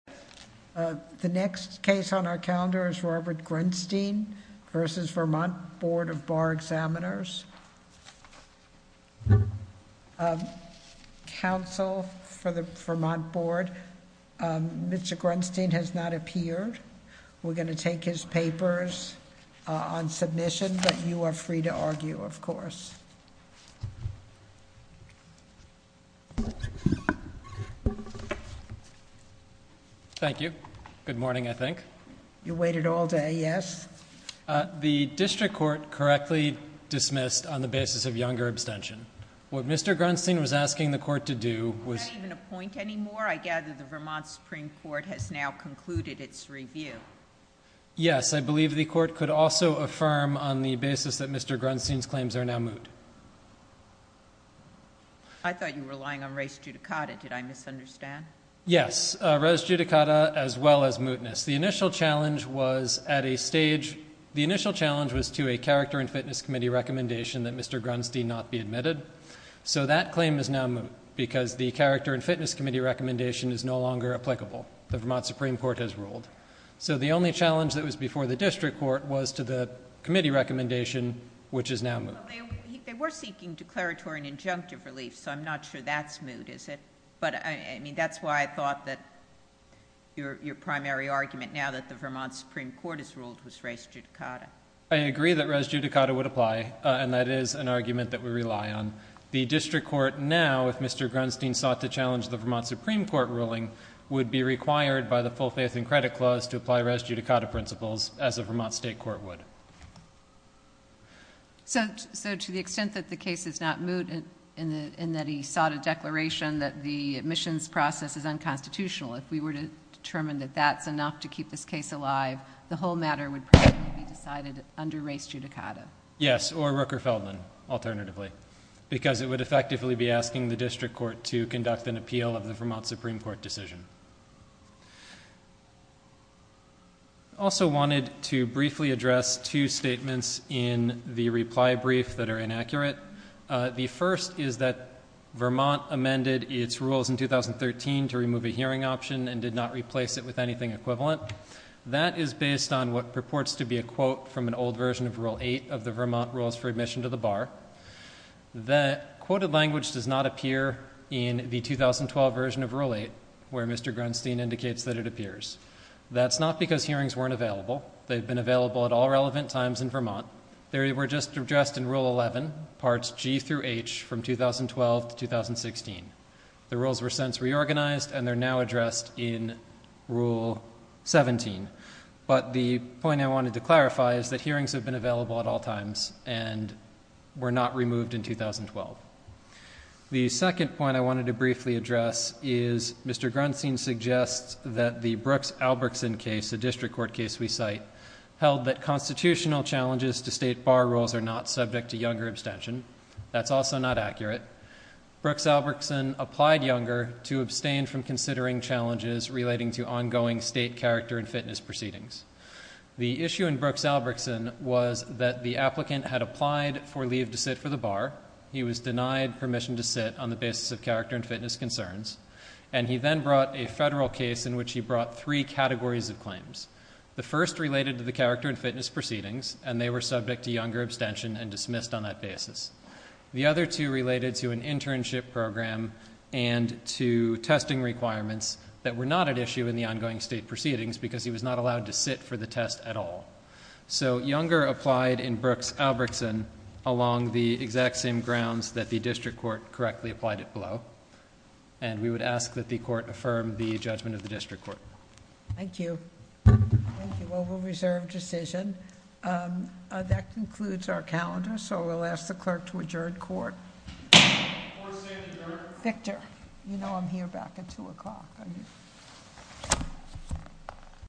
The next case on our calendar is Robert Grunstein v. Vermont Board of Bar Examiners. Counsel for the Vermont Board, Mr. Grunstein has not appeared. We're going to take his papers on submission, but you are free to argue, of course. Thank you. Good morning, I think. You waited all day, yes? The district court correctly dismissed on the basis of younger abstention. What Mr. Grunstein was asking the court to do was- Not even a point anymore. I gather the Vermont Supreme Court has now concluded its review. Yes, I believe the court could also affirm on the basis that Mr. Grunstein's claims are now moot. I thought you were relying on res judicata. Did I misunderstand? Yes, res judicata as well as mootness. The initial challenge was to a character and fitness committee recommendation that Mr. Grunstein not be admitted. That claim is now moot because the character and fitness committee recommendation is no longer applicable. The Vermont Supreme Court has ruled. The only challenge that was before the district court was to the committee recommendation, which is now moot. They were seeking declaratory and injunctive relief. I'm not sure that's moot, is it? That's why I thought that your primary argument now that the Vermont Supreme Court has ruled was res judicata. I agree that res judicata would apply. That is an argument that we rely on. The district court now, if Mr. Grunstein sought to challenge the Vermont Supreme Court ruling, would be required by the full faith and credit clause to apply res judicata principles as a Vermont state court would. So to the extent that the case is not moot and that he sought a declaration that the admissions process is unconstitutional, if we were to determine that that's enough to keep this case alive, the whole matter would probably be decided under res judicata. Yes, or Rooker-Feldman alternatively, because it would effectively be asking the district court to conduct an appeal of the Vermont Supreme Court decision. I also wanted to briefly address two statements in the reply brief that are inaccurate. The first is that Vermont amended its rules in 2013 to remove a hearing option and did not replace it with anything equivalent. That is based on what purports to be a quote from an old version of Rule 8 of the Vermont Rules for Admission to the Bar. That quoted language does not appear in the 2012 version of Rule 8, where Mr. Grunstein indicates that it appears. That's not because hearings weren't available. They've been available at all relevant times in Vermont. They were just addressed in Rule 11, parts G through H, from 2012 to 2016. The rules were since reorganized and they're now addressed in Rule 17. But the point I wanted to clarify is that hearings have been and were not removed in 2012. The second point I wanted to briefly address is Mr. Grunstein suggests that the Brooks-Albertson case, the district court case we cite, held that constitutional challenges to state bar rules are not subject to younger abstention. That's also not accurate. Brooks-Albertson applied younger to abstain from considering challenges relating to ongoing state character and fitness proceedings. The issue in Brooks-Albertson was that the applicant had applied for leave to sit for the bar. He was denied permission to sit on the basis of character and fitness concerns. And he then brought a federal case in which he brought three categories of claims. The first related to the character and fitness proceedings and they were subject to younger abstention and dismissed on that basis. The other two related to an internship program and to testing requirements that were not at issue in the ongoing state proceedings because he was not allowed to sit for the test at all. So younger applied in Brooks-Albertson along the exact same grounds that the district court correctly applied it below. And we would ask that the court affirm the judgment of the district court. Thank you. Thank you. Well, we'll reserve decision. That concludes our calendar so we'll ask the clerk to adjourn court. Court is adjourned. Victor, you know I'm here back at 2 o'clock, don't you?